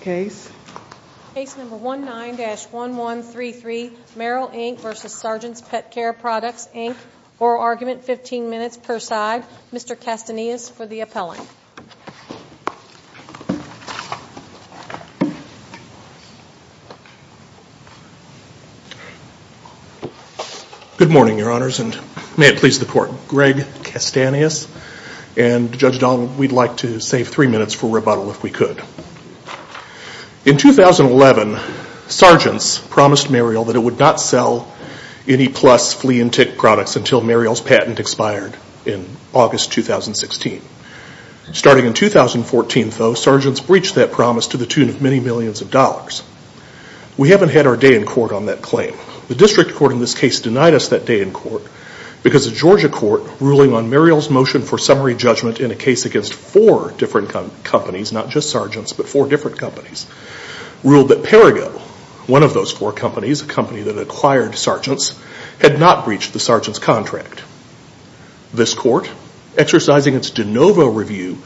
Case number 19-1133, Merial Inc v. Sergeant's Pet Care Products, Inc. Oral argument, 15 minutes per side. Mr. Castanillas for the appellant. Good morning, Your Honors, and may it please the Court. Greg Castanillas. And Judge Donald, we'd like to save three minutes for rebuttal if we could. In 2011, Sergeants promised Merial that it would not sell any plus flea and tick products until Merial's patent expired in August 2016. Starting in 2014, though, Sergeants breached that promise to the tune of many millions of dollars. We haven't had our day in court on that claim. The District Court in this case denied us that day in court because the Georgia court ruling on Merial's motion for summary judgment in a case against four different companies, not just Sergeants, but four different companies, ruled that Perigo, one of those four companies, a company that acquired Sergeants, had not breached the Sergeants' contract. This court, exercising its de novo review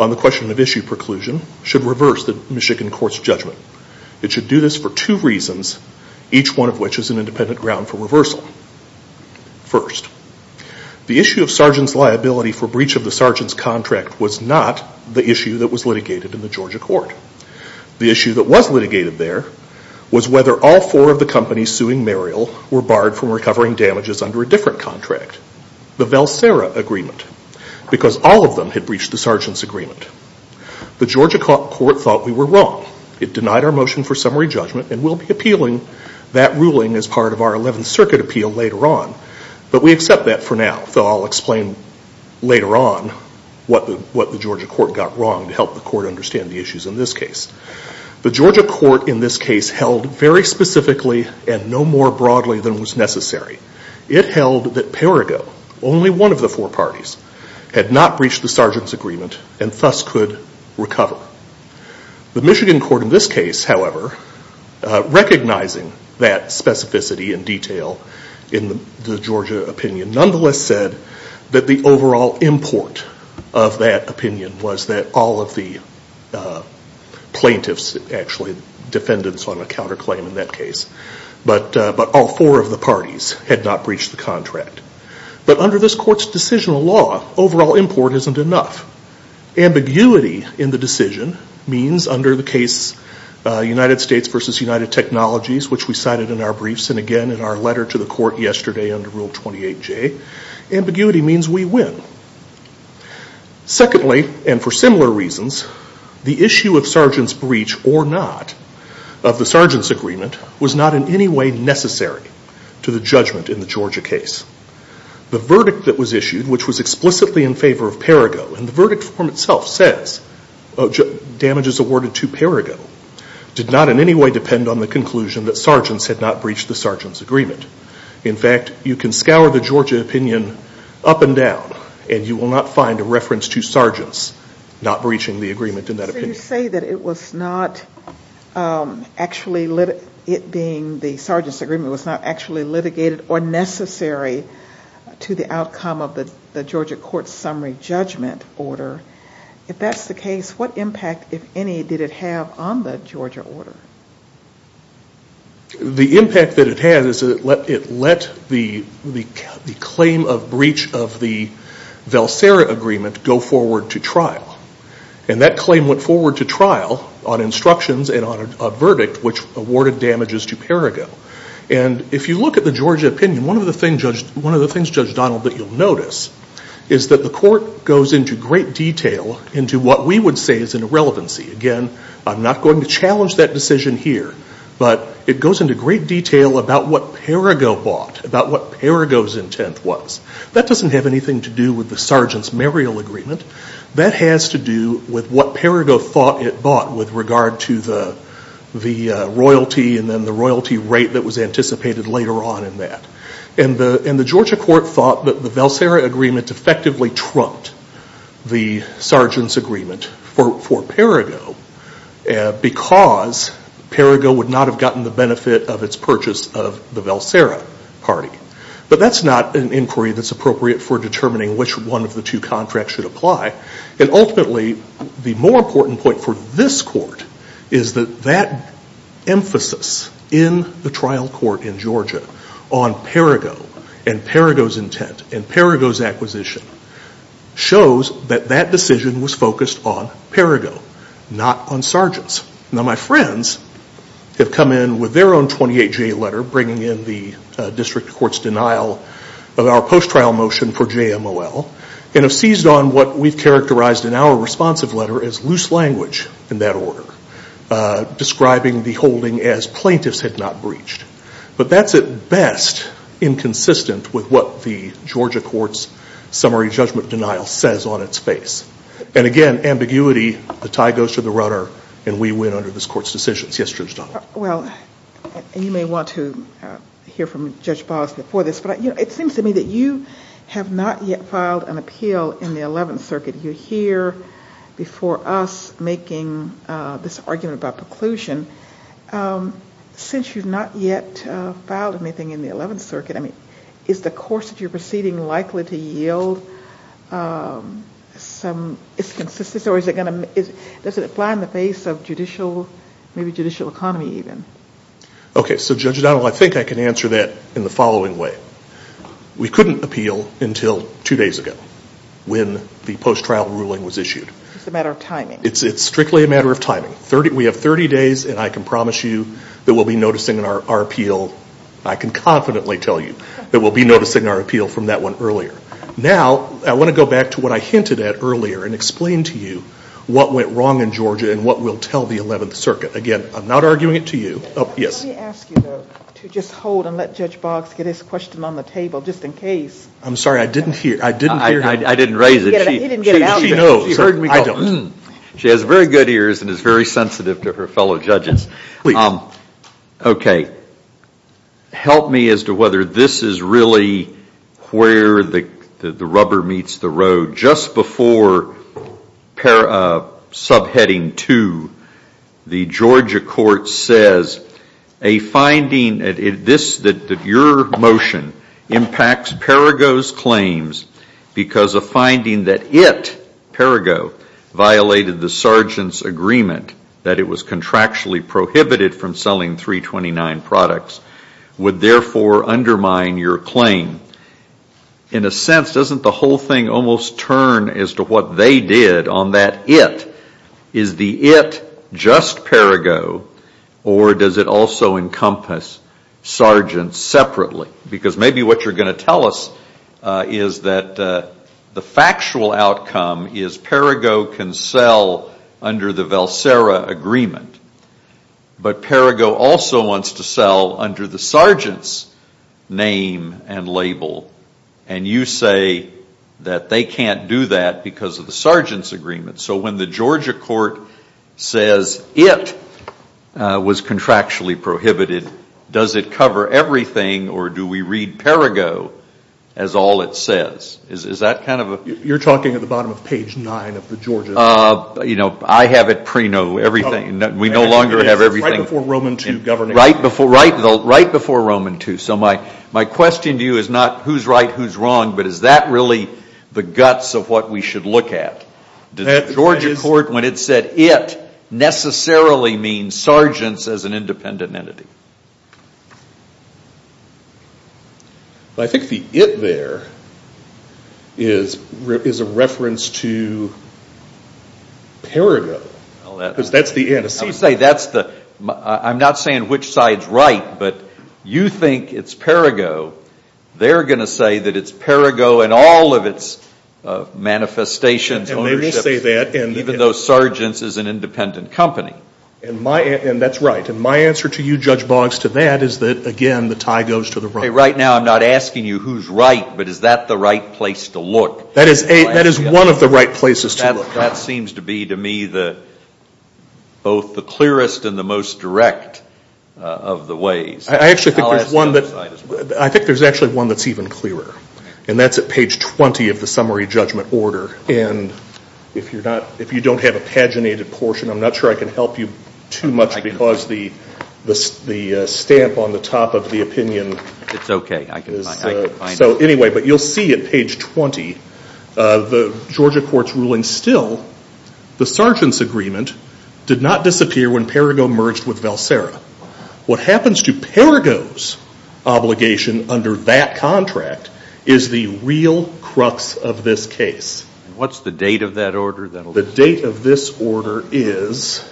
on the question of issue preclusion, should reverse the Michigan court's judgment. It should do this for two reasons, each one of which is an independent ground for reversal. First, the issue of Sergeants' liability for breach of the Sergeants' contract was not the issue that was litigated in the Georgia court. The issue that was litigated there was whether all four of the companies suing Merial were barred from recovering damages under a different contract, the Valsera agreement, because all of them had breached the Sergeants' agreement. The Georgia court thought we were wrong. It denied our motion for summary judgment and will be appealing that ruling as part of our Eleventh Circuit appeal later on, but we accept that for now. So I'll explain later on what the Georgia court got wrong to help the court understand the issues in this case. The Georgia court in this case held very specifically and no more broadly than was necessary. It held that Perigo, only one of the four parties, had not breached the Sergeants' agreement and thus could recover. The Michigan court in this case, however, recognizing that specificity and detail in the Georgia opinion, nonetheless said that the overall import of that opinion was that all of the plaintiffs, actually defendants on a counterclaim in that case, but all four of the parties had not breached the contract. But under this court's decisional law, overall import isn't enough. Ambiguity in the decision means under the case United States v. United Technologies, which we cited in our briefs and again in our letter to the court yesterday under Rule 28J, ambiguity means we win. Secondly, and for similar reasons, the issue of Sergeants' breach or not of the Sergeants' agreement was not in any way necessary to the judgment in the Georgia case. The verdict that was issued, which was explicitly in favor of Perigo, and the verdict form itself says damages awarded to Perigo, did not in any way depend on the conclusion that Sergeants had not breached the Sergeants' agreement. In fact, you can scour the Georgia opinion up and down and you will not find a reference to Sergeants not breaching the agreement in that opinion. So you say that it was not actually, it being the Sergeants' agreement, was not actually litigated or necessary to the outcome of the Georgia court's summary judgment order. If that's the case, what impact, if any, did it have on the Georgia order? The impact that it had is that it let the claim of breach of the Valsera agreement go forward to trial. And that claim went forward to trial on instructions and on a verdict which awarded damages to Perigo. And if you look at the Georgia opinion, one of the things, Judge Donald, that you'll notice is that the court goes into great detail into what we would say is an irrelevancy. Again, I'm not going to challenge that decision here, but it goes into great detail about what Perigo bought, about what Perigo's intent was. That doesn't have anything to do with the Sergeants' marial agreement. That has to do with what Perigo thought it bought with regard to the royalty and then the royalty rate that was anticipated later on in that. And the Georgia court thought that the Valsera agreement effectively trumped the Sergeants' agreement for Perigo because Perigo would not have gotten the benefit of its purchase of the Valsera party. But that's not an inquiry that's appropriate for determining which one of the two contracts should apply. And ultimately, the more important point for this court is that that emphasis in the trial court in Georgia on Perigo and Perigo's intent and Perigo's acquisition shows that that decision was focused on Perigo, not on Sergeants. Now, my friends have come in with their own 28-J letter bringing in the district court's denial of our post-trial motion for JMOL and have seized on what we've characterized in our responsive letter as loose language in that order, describing the holding as plaintiffs had not breached. But that's at best inconsistent with what the Georgia court's summary judgment denial says on its face. And again, ambiguity, the tie goes to the runner, and we win under this court's decisions. Yes, Judge Donald? Well, you may want to hear from Judge Bahls before this, but it seems to me that you have not yet filed an appeal in the Eleventh Circuit. You're here before us making this argument about preclusion. Since you've not yet filed anything in the Eleventh Circuit, is the course that you're proceeding likely to yield some inconsistency, or does it apply in the face of judicial, maybe judicial economy even? Okay. So, Judge Donald, I think I can answer that in the following way. We couldn't appeal until two days ago when the post-trial ruling was issued. It's a matter of timing. It's strictly a matter of timing. We have 30 days, and I can promise you that we'll be noticing our appeal. I can confidently tell you that we'll be noticing our appeal from that one earlier. Now, I want to go back to what I hinted at earlier and explain to you what went wrong in Georgia and what we'll tell the Eleventh Circuit. Again, I'm not arguing it to you. Let me ask you, though, to just hold and let Judge Bahls get his question on the table just in case. I'm sorry. I didn't hear. I didn't raise it. He didn't get it out there. She knows. I don't. She has very good ears and is very sensitive to her fellow judges. Okay. Help me as to whether this is really where the rubber meets the road. Just before subheading two, the Georgia court says a finding, that your motion impacts Perrigo's claims because a finding that it, Perrigo, violated the sergeant's agreement that it was contractually prohibited from selling 329 products, would therefore undermine your claim. In a sense, doesn't the whole thing almost turn as to what they did on that it? Is the it just Perrigo, or does it also encompass sergeants separately? Because maybe what you're going to tell us is that the factual outcome is Perrigo can sell under the Valsera agreement, but Perrigo also wants to sell under the sergeant's name and label, and you say that they can't do that because of the sergeant's agreement. So when the Georgia court says it was contractually prohibited, does it cover everything, or do we read Perrigo as all it says? Is that kind of a? You're talking at the bottom of page nine of the Georgia. You know, I have it pre-no, everything. We no longer have everything. Right before Roman II governing. Right before Roman II. So my question to you is not who's right, who's wrong, but is that really the guts of what we should look at? Does the Georgia court, when it said it, necessarily mean sergeants as an independent entity? I think the it there is a reference to Perrigo. Because that's the antecedent. I'm not saying which side's right, but you think it's Perrigo. They're going to say that it's Perrigo in all of its manifestations, ownership. And they will say that. Even though sergeants is an independent company. And that's right. And my answer to you, Judge Boggs, to that is that, again, the tie goes to the right. Right now I'm not asking you who's right, but is that the right place to look? That is one of the right places to look. That seems to be, to me, both the clearest and the most direct of the ways. I actually think there's one that's even clearer. And that's at page 20 of the summary judgment order. And if you don't have a paginated portion, I'm not sure I can help you too much because the stamp on the top of the opinion. It's okay. I can find it. So, anyway, but you'll see at page 20, the Georgia court's ruling still, the sergeants' agreement did not disappear when Perrigo merged with Valsera. What happens to Perrigo's obligation under that contract is the real crux of this case. What's the date of that order? The date of this order is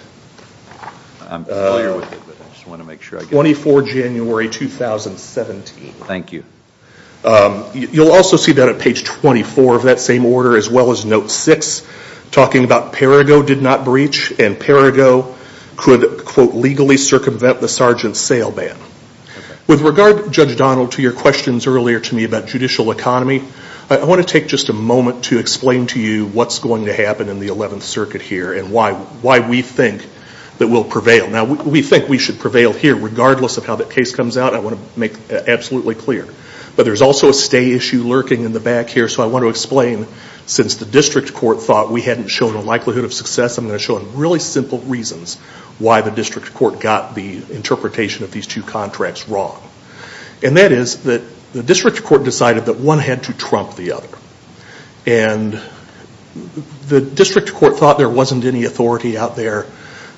24 January 2017. Thank you. You'll also see that at page 24 of that same order, as well as note 6, talking about Perrigo did not breach and Perrigo could, quote, legally circumvent the sergeant's sale ban. With regard, Judge Donald, to your questions earlier to me about judicial economy, I want to take just a moment to explain to you what's going to happen in the 11th Circuit here and why we think that we'll prevail. Now, we think we should prevail here regardless of how that case comes out. I want to make that absolutely clear. But there's also a stay issue lurking in the back here. So I want to explain, since the district court thought we hadn't shown a likelihood of success, I'm going to show really simple reasons why the district court got the interpretation of these two contracts wrong. And that is that the district court decided that one had to trump the other. And the district court thought there wasn't any authority out there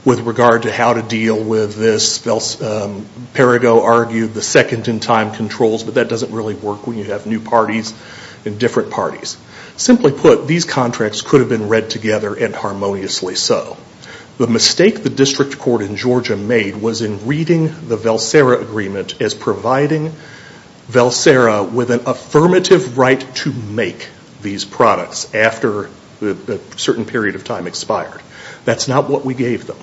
with regard to how to deal with this. Perrigo argued the second-in-time controls, but that doesn't really work when you have new parties and different parties. Simply put, these contracts could have been read together and harmoniously so. The mistake the district court in Georgia made was in reading the Valsera Agreement as providing Valsera with an affirmative right to make these products after a certain period of time expired. That's not what we gave them.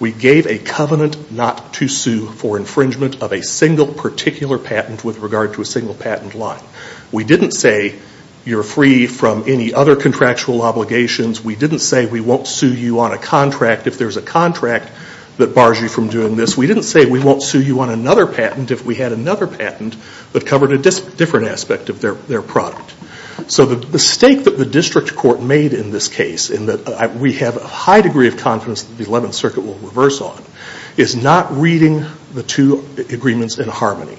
We gave a covenant not to sue for infringement of a single particular patent with regard to a single patent line. We didn't say you're free from any other contractual obligations. We didn't say we won't sue you on a contract if there's a contract that bars you from doing this. We didn't say we won't sue you on another patent if we had another patent that covered a different aspect of their product. So the mistake that the district court made in this case, in that we have a high degree of confidence that the Eleventh Circuit will reverse on, is not reading the two agreements in harmony.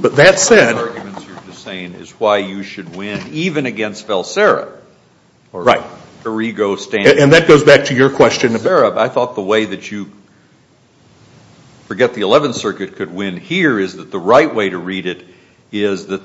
But that said- One of the arguments you're just saying is why you should win even against Valsera. Right. Or Perrigo standing- And that goes back to your question. I thought the way that you forget the Eleventh Circuit could win here is that the right way to read it is that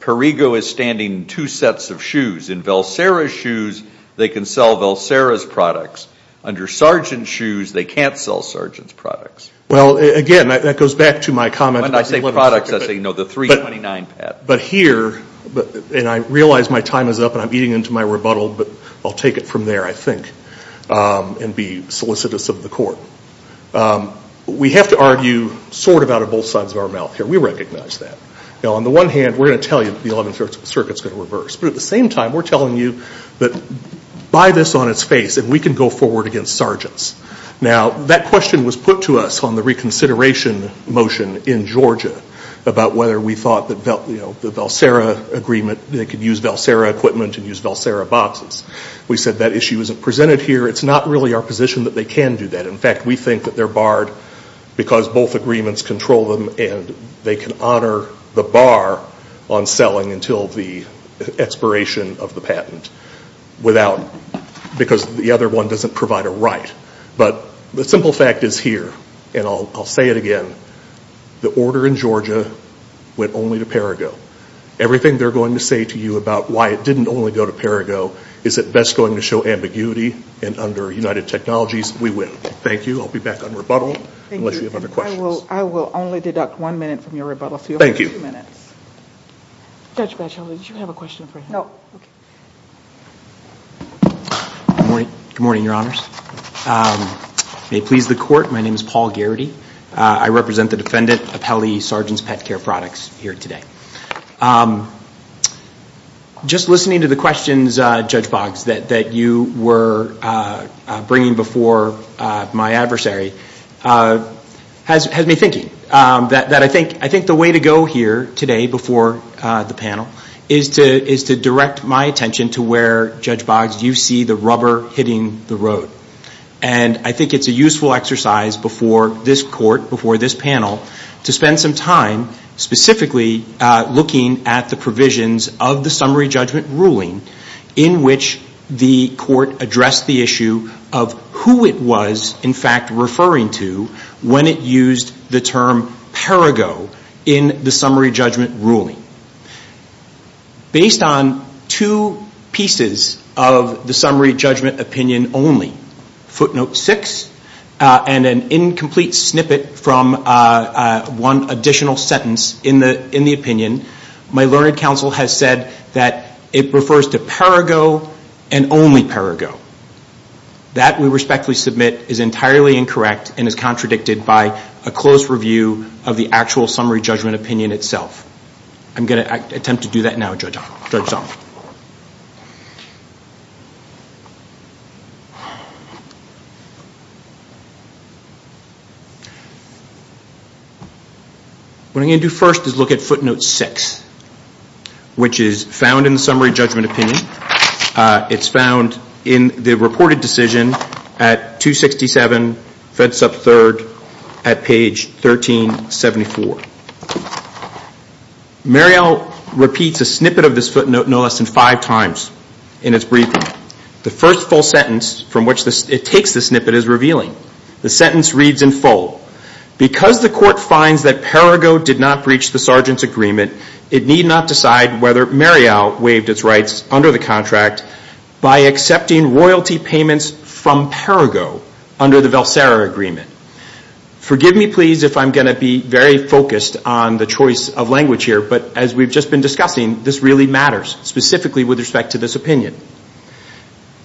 Perrigo is standing two sets of shoes. In Valsera's shoes, they can sell Valsera's products. Under Sargent's shoes, they can't sell Sargent's products. Well, again, that goes back to my comment- When I say products, I say, you know, the 329 patent. But here, and I realize my time is up and I'm eating into my rebuttal, but I'll take it from there, I think, and be solicitous of the court. We have to argue sort of out of both sides of our mouth here. We recognize that. Now, on the one hand, we're going to tell you that the Eleventh Circuit is going to reverse. But at the same time, we're telling you that buy this on its face and we can go forward against Sargent's. Now, that question was put to us on the reconsideration motion in Georgia about whether we thought that, you know, the Valsera agreement, they could use Valsera equipment and use Valsera boxes. We said that issue isn't presented here. It's not really our position that they can do that. In fact, we think that they're barred because both agreements control them and they can honor the bar on selling until the expiration of the patent without- because the other one doesn't provide a right. But the simple fact is here, and I'll say it again, the order in Georgia went only to Perigo. Everything they're going to say to you about why it didn't only go to Perigo is at best going to show ambiguity. And under United Technologies, we win. Thank you. I'll be back on rebuttal unless you have other questions. I will only deduct one minute from your rebuttal, so you'll have two minutes. Thank you. Judge Bachelet, did you have a question for him? No. Okay. Good morning, Your Honors. May it please the Court, my name is Paul Garrity. I represent the Defendant Appellee Sargent's Pet Care Products here today. Just listening to the questions, Judge Boggs, that you were bringing before my adversary has me thinking that I think the way to go here today before the panel is to direct my attention to where, Judge Boggs, you see the rubber hitting the road. And I think it's a useful exercise before this Court, before this panel, to spend some time specifically looking at the provisions of the Summary Judgment Ruling in which the Court addressed the issue of who it was, in fact, referring to when it used the term Perigo in the Summary Judgment Ruling. Based on two pieces of the Summary Judgment Opinion only, footnote six, and an incomplete snippet from one additional sentence in the opinion, my learned counsel has said that it refers to Perigo and only Perigo. That, we respectfully submit, is entirely incorrect and is contradicted by a close review of the actual Summary Judgment Opinion itself. I'm going to attempt to do that now, Judge Zahn. What I'm going to do first is look at footnote six, which is found in the Summary Judgment Opinion. It's found in the reported decision at 267, fence up third, at page 1374. Muriel repeats a snippet of this footnote no less than five times in its briefing. The first full sentence from which it takes the snippet is revealing. The sentence reads in full, Because the Court finds that Perigo did not breach the Sergeant's agreement, it need not decide whether Muriel waived its rights under the contract by accepting royalty payments from Perigo under the Valsera Agreement. Forgive me, please, if I'm going to be very focused on the choice of language here, but as we've just been discussing, this really matters, specifically with respect to this opinion.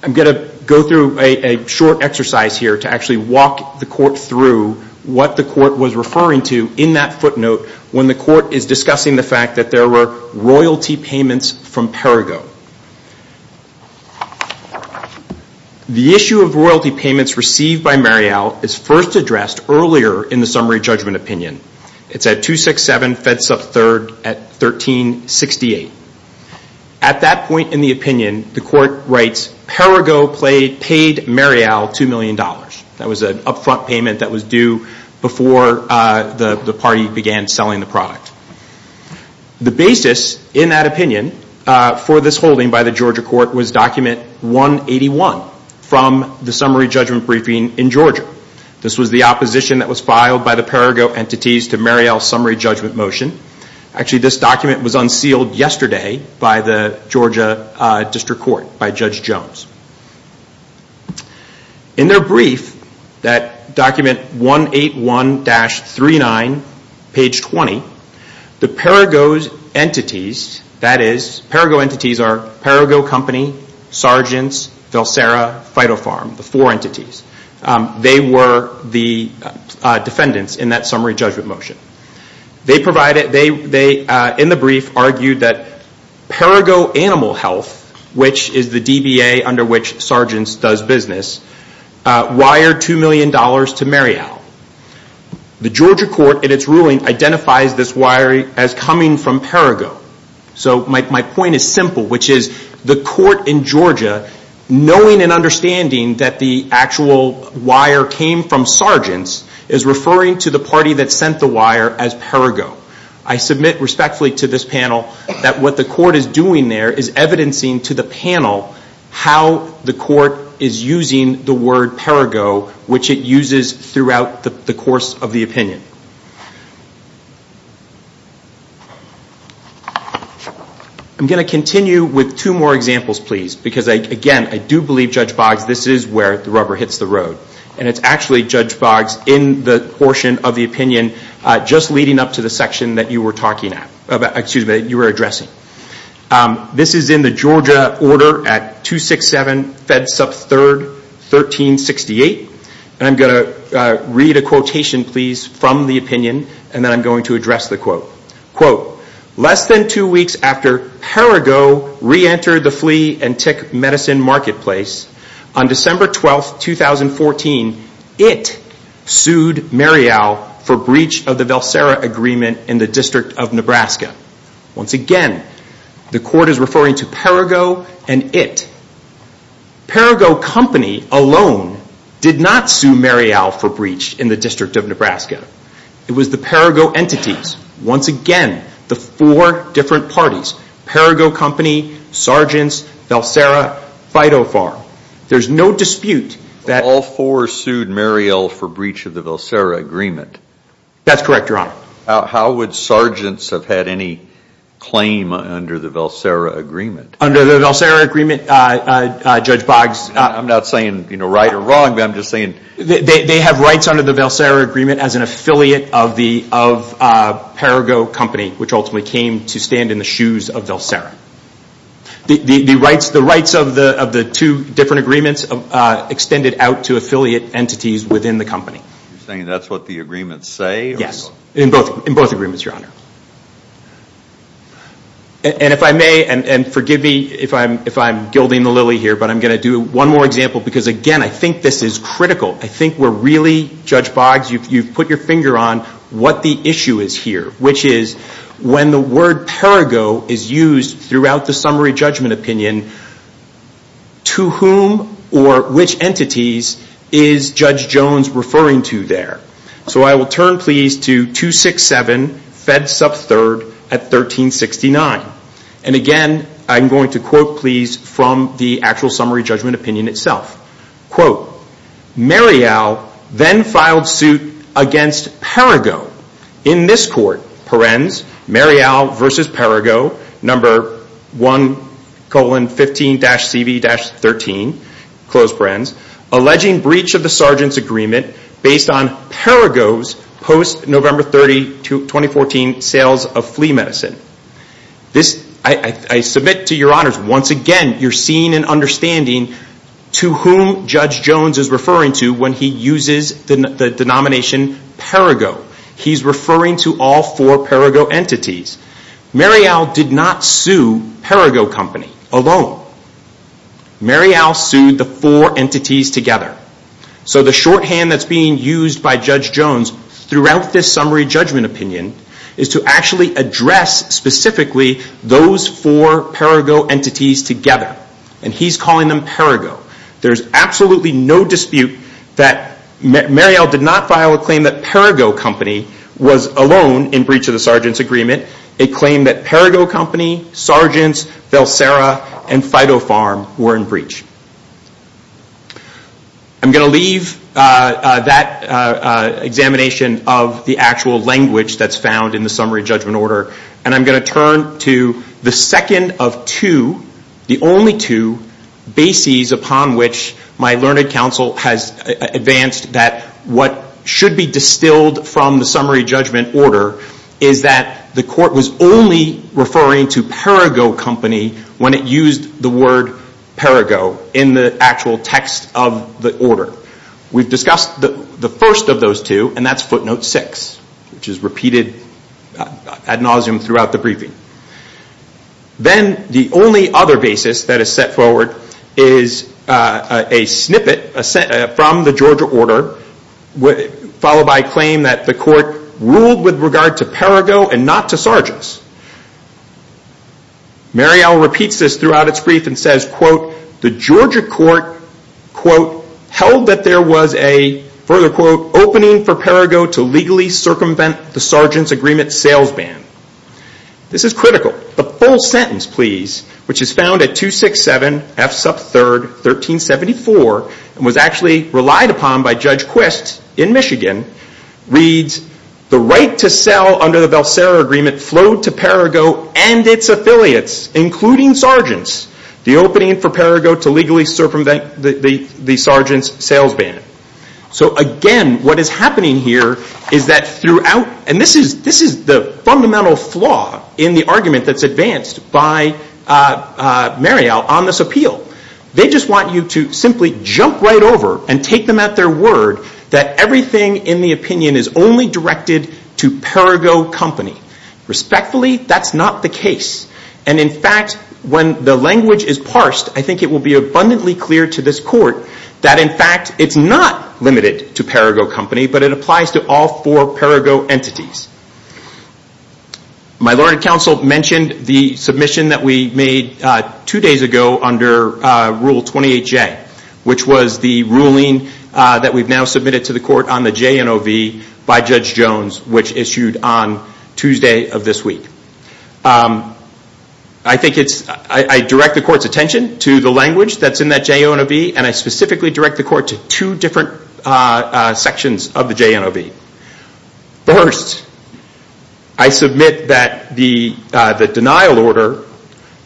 I'm going to go through a short exercise here to actually walk the Court through what the Court was referring to in that footnote when the Court is discussing the fact that there were royalty payments from Perigo. The issue of royalty payments received by Muriel is first addressed earlier in the Summary Judgment Opinion. It's at 267, fence up third, at 1368. At that point in the opinion, the Court writes, Perigo paid Muriel two million dollars. That was an upfront payment that was due before the party began selling the product. The basis in that opinion for this holding by the Georgia Court was document 181 from the Summary Judgment Briefing in Georgia. This was the opposition that was filed by the Perigo entities to Muriel's Summary Judgment motion. Actually, this document was unsealed yesterday by the Georgia District Court, by Judge Jones. In their brief, that document 181-39, page 20, the Perigo entities, that is, Perigo entities are Perigo Company, Sargents, Valsera, Phytopharm, the four entities. They were the defendants in that Summary Judgment motion. They, in the brief, argued that Perigo Animal Health, which is the DBA under which Sargents does business, wired two million dollars to Muriel. The Georgia Court, in its ruling, identifies this wiring as coming from Perigo. My point is simple, which is the Court in Georgia, knowing and understanding that the actual wire came from Sargents, is referring to the party that sent the wire as Perigo. I submit respectfully to this panel that what the Court is doing there is evidencing to the panel how the Court is using the word Perigo, which it uses throughout the course of the opinion. I'm going to continue with two more examples, please, because, again, I do believe, Judge Boggs, this is where the rubber hits the road. It's actually, Judge Boggs, in the portion of the opinion, just leading up to the section that you were addressing. This is in the Georgia Order at 267 Fed Sup 3rd 1368. I'm going to read a quotation, please, from the opinion, and then I'm going to address the quote. Quote, less than two weeks after Perigo reentered the flea and tick medicine marketplace, on December 12, 2014, it sued Marial for breach of the Valsera Agreement in the District of Nebraska. Once again, the Court is referring to Perigo and it. Perigo Company alone did not sue Marial for breach in the District of Nebraska. It was the Perigo entities, once again, the four different parties, Perigo Company, Sargents, Valsera, Phytopharm. There's no dispute that all four sued Marial for breach of the Valsera Agreement. That's correct, Your Honor. How would Sargents have had any claim under the Valsera Agreement? Under the Valsera Agreement, Judge Boggs. I'm not saying right or wrong, but I'm just saying. They have rights under the Valsera Agreement as an affiliate of Perigo Company, which ultimately came to stand in the shoes of Valsera. The rights of the two different agreements extended out to affiliate entities within the company. You're saying that's what the agreements say? Yes, in both agreements, Your Honor. And if I may, and forgive me if I'm gilding the lily here, but I'm going to do one more example because, again, I think this is critical. I think we're really, Judge Boggs, you've put your finger on what the issue is here, which is when the word Perigo is used throughout the Summary Judgment Opinion, to whom or which entities is Judge Jones referring to there? So I will turn, please, to 267 Fed Sub 3rd at 1369. And, again, I'm going to quote, please, from the actual Summary Judgment Opinion itself. Quote, Marial then filed suit against Perigo. In this court, Perens, Marial v. Perigo, number 1-15-CV-13, close Perens, alleging breach of the Sargent's Agreement based on Perigo's post-November 30, 2014, sales of flea medicine. I submit to your honors, once again, you're seeing and understanding to whom Judge Jones is referring to when he uses the denomination Perigo. He's referring to all four Perigo entities. Marial did not sue Perigo Company alone. Marial sued the four entities together. So the shorthand that's being used by Judge Jones throughout this Summary Judgment Opinion is to actually address specifically those four Perigo entities together. And he's calling them Perigo. There's absolutely no dispute that Marial did not file a claim that Perigo Company was alone in breach of the Sargent's Agreement. It claimed that Perigo Company, Sargent's, Velsera, and Fido Farm were in breach. I'm going to leave that examination of the actual language that's found in the Summary Judgment Order. And I'm going to turn to the second of two, the only two, bases upon which my learned counsel has advanced that what should be distilled from the Summary Judgment Order is that the court was only referring to Perigo Company when it used the word Perigo in the actual text of the order. We've discussed the first of those two, and that's footnote six, which is repeated ad nauseum throughout the briefing. Then the only other basis that is set forward is a snippet from the Georgia order followed by a claim that the court ruled with regard to Perigo and not to Sargents. Marial repeats this throughout its brief and says, The Georgia court, quote, held that there was a, further quote, opening for Perigo to legally circumvent the Sargent's Agreement sales ban. This is critical. The full sentence, please, which is found at 267 F sub 3rd, 1374, and was actually relied upon by Judge Quist in Michigan, reads, The right to sell under the Valsera Agreement flowed to Perigo and its affiliates, including Sargents, the opening for Perigo to legally circumvent the Sargent's sales ban. So again, what is happening here is that throughout, and this is the fundamental flaw in the argument that's advanced by Marial on this appeal. They just want you to simply jump right over and take them at their word that everything in the opinion is only directed to Perigo Company. Respectfully, that's not the case, and in fact, when the language is parsed, I think it will be abundantly clear to this court that, in fact, it's not limited to Perigo Company, but it applies to all four Perigo entities. My Lord and Counsel mentioned the submission that we made two days ago under Rule 28J, which was the ruling that we've now submitted to the court on the JNOV by Judge Jones, which issued on Tuesday of this week. I direct the court's attention to the language that's in that JNOV, and I specifically direct the court to two different sections of the JNOV. First, I submit that the denial order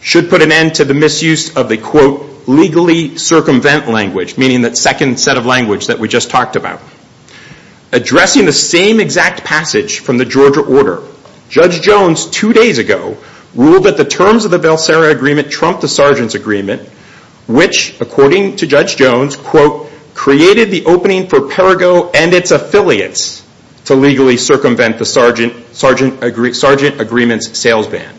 should put an end to the misuse of the, quote, legally circumvent language, meaning that second set of language that we just talked about. Addressing the same exact passage from the Georgia order, Judge Jones, two days ago, ruled that the terms of the Valsera Agreement trumped the Sargent's Agreement, which, according to Judge Jones, quote, created the opening for Perigo and its affiliates to legally circumvent the Sargent Agreement's sales ban.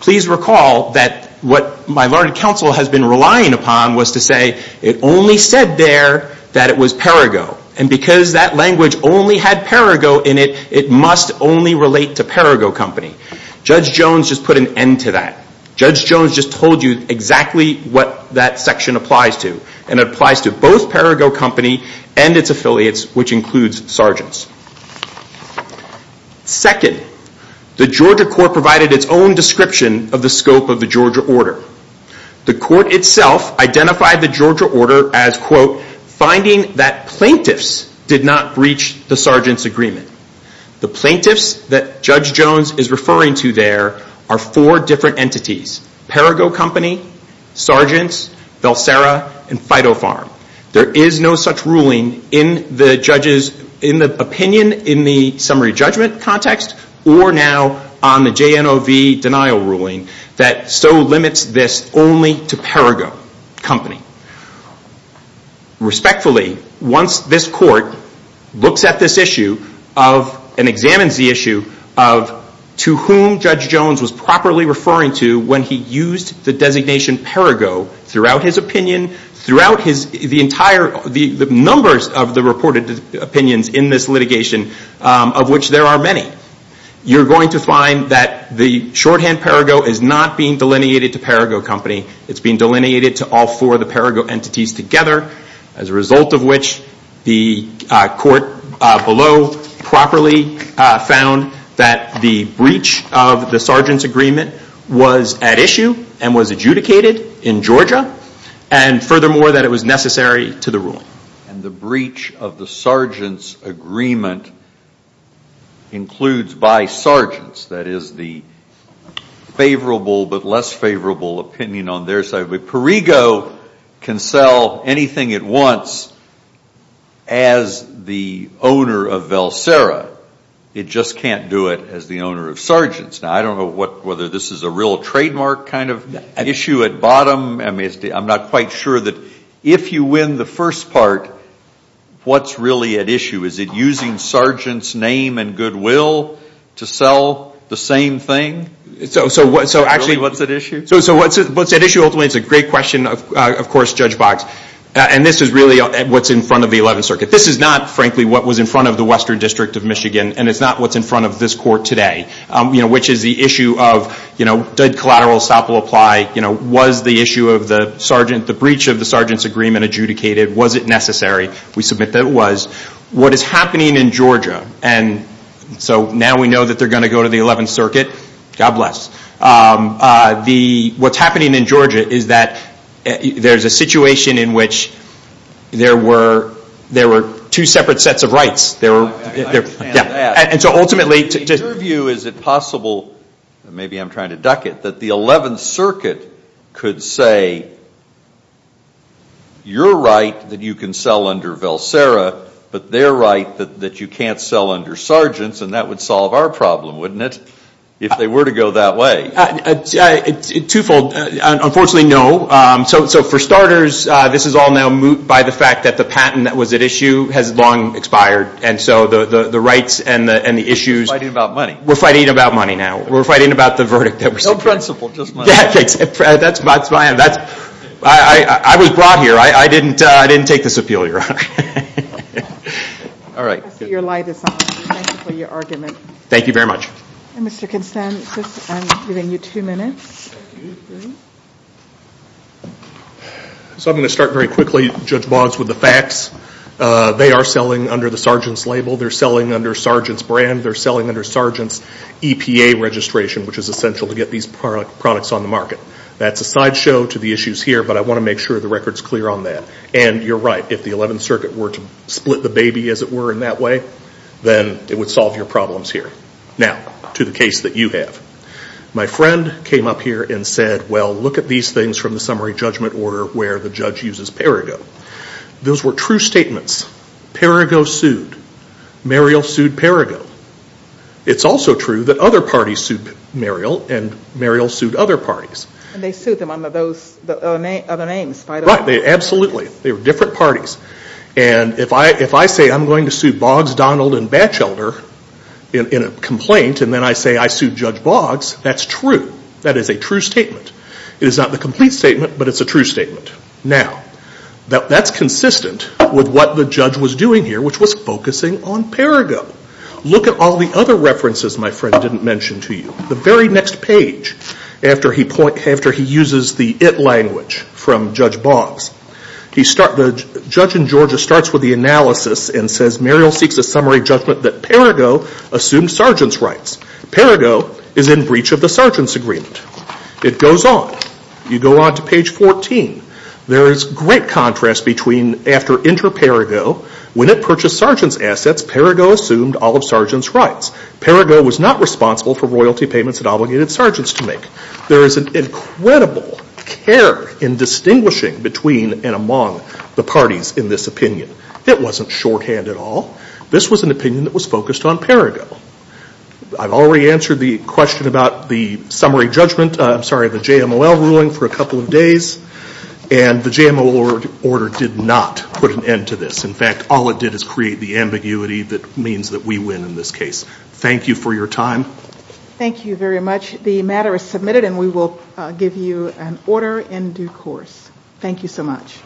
Please recall that what my Lord and Counsel has been relying upon was to say it only said there that it was Perigo, and because that language only had Perigo in it, it must only relate to Perigo Company. Judge Jones just put an end to that. Judge Jones just told you exactly what that section applies to, and it applies to both Perigo Company and its affiliates, which includes Sargents. Second, the Georgia court provided its own description of the scope of the Georgia order. The court itself identified the Georgia order as, quote, finding that plaintiffs did not breach the Sargent's Agreement. The plaintiffs that Judge Jones is referring to there are four different entities, Perigo Company, Sargents, Valsera, and Fido Farm. There is no such ruling in the opinion in the summary judgment context or now on the JNOV denial ruling that so limits this only to Perigo Company. Respectfully, once this court looks at this issue of and examines the issue of to whom Judge Jones was properly referring to when he used the designation Perigo throughout his opinion, throughout the numbers of the reported opinions in this litigation, of which there are many, you're going to find that the shorthand Perigo is not being delineated to Perigo Company. It's being delineated to all four of the Perigo entities together, as a result of which the court below properly found that the breach of the Sargent's Agreement was at issue and was adjudicated in Georgia, and furthermore, that it was necessary to the rule. And the breach of the Sargent's Agreement includes by Sargent's, that is the favorable but less favorable opinion on their side. Perigo can sell anything it wants as the owner of Valsera. It just can't do it as the owner of Sargent's. Now, I don't know whether this is a real trademark kind of issue at bottom. I'm not quite sure that if you win the first part, what's really at issue? Is it using Sargent's name and goodwill to sell the same thing? Really, what's at issue? So what's at issue ultimately is a great question, of course, Judge Box. And this is really what's in front of the Eleventh Circuit. This is not, frankly, what was in front of the Western District of Michigan, and it's not what's in front of this court today, which is the issue of did collateral estoppel apply? Was the issue of the Sargent, the breach of the Sargent's Agreement adjudicated? Was it necessary? We submit that it was. What is happening in Georgia, and so now we know that they're going to go to the Eleventh Circuit. God bless. What's happening in Georgia is that there's a situation in which there were two separate sets of rights. In your view, is it possible, maybe I'm trying to duck it, that the Eleventh Circuit could say you're right that you can sell under Velsera, but they're right that you can't sell under Sargent's, and that would solve our problem, wouldn't it, if they were to go that way? Twofold. Unfortunately, no. So for starters, this is all now moot by the fact that the patent that was at issue has long expired, and so the rights and the issues— We're fighting about money. We're fighting about money now. We're fighting about the verdict that was secured. No principle, just money. That's my end. I was brought here. I didn't take this appeal, Your Honor. I see your light is on. Thank you for your argument. Thank you very much. Mr. Constand, I'm giving you two minutes. So I'm going to start very quickly, Judge Boggs, with the facts. They are selling under the Sargent's label. They're selling under Sargent's brand. They're selling under Sargent's EPA registration, which is essential to get these products on the market. That's a sideshow to the issues here, but I want to make sure the record's clear on that. And you're right. If the Eleventh Circuit were to split the baby, as it were, in that way, then it would solve your problems here. Now, to the case that you have. My friend came up here and said, well, look at these things from the summary judgment order where the judge uses Perigo. Those were true statements. Perigo sued. Muriel sued Perigo. It's also true that other parties sued Muriel, and Muriel sued other parties. And they sued them under those other names. Right. Absolutely. They were different parties. And if I say I'm going to sue Boggs, Donald, and Batchelder in a complaint, and then I say I sued Judge Boggs, that's true. That is a true statement. It is not the complete statement, but it's a true statement. Now, that's consistent with what the judge was doing here, which was focusing on Perigo. Look at all the other references my friend didn't mention to you. The very next page, after he uses the it language from Judge Boggs, the judge in Georgia starts with the analysis and says, Muriel seeks a summary judgment that Perigo assumed sergeant's rights. Perigo is in breach of the sergeant's agreement. It goes on. You go on to page 14. There is great contrast between after inter-Perigo. When it purchased sergeant's assets, Perigo assumed all of sergeant's rights. Perigo was not responsible for royalty payments that obligated sergeants to make. There is an incredible care in distinguishing between and among the parties in this opinion. It wasn't shorthand at all. This was an opinion that was focused on Perigo. I've already answered the question about the summary judgment. I'm sorry, the JML ruling for a couple of days, and the JML order did not put an end to this. In fact, all it did is create the ambiguity that means that we win in this case. Thank you for your time. Thank you very much. The matter is submitted, and we will give you an order in due course. Thank you so much.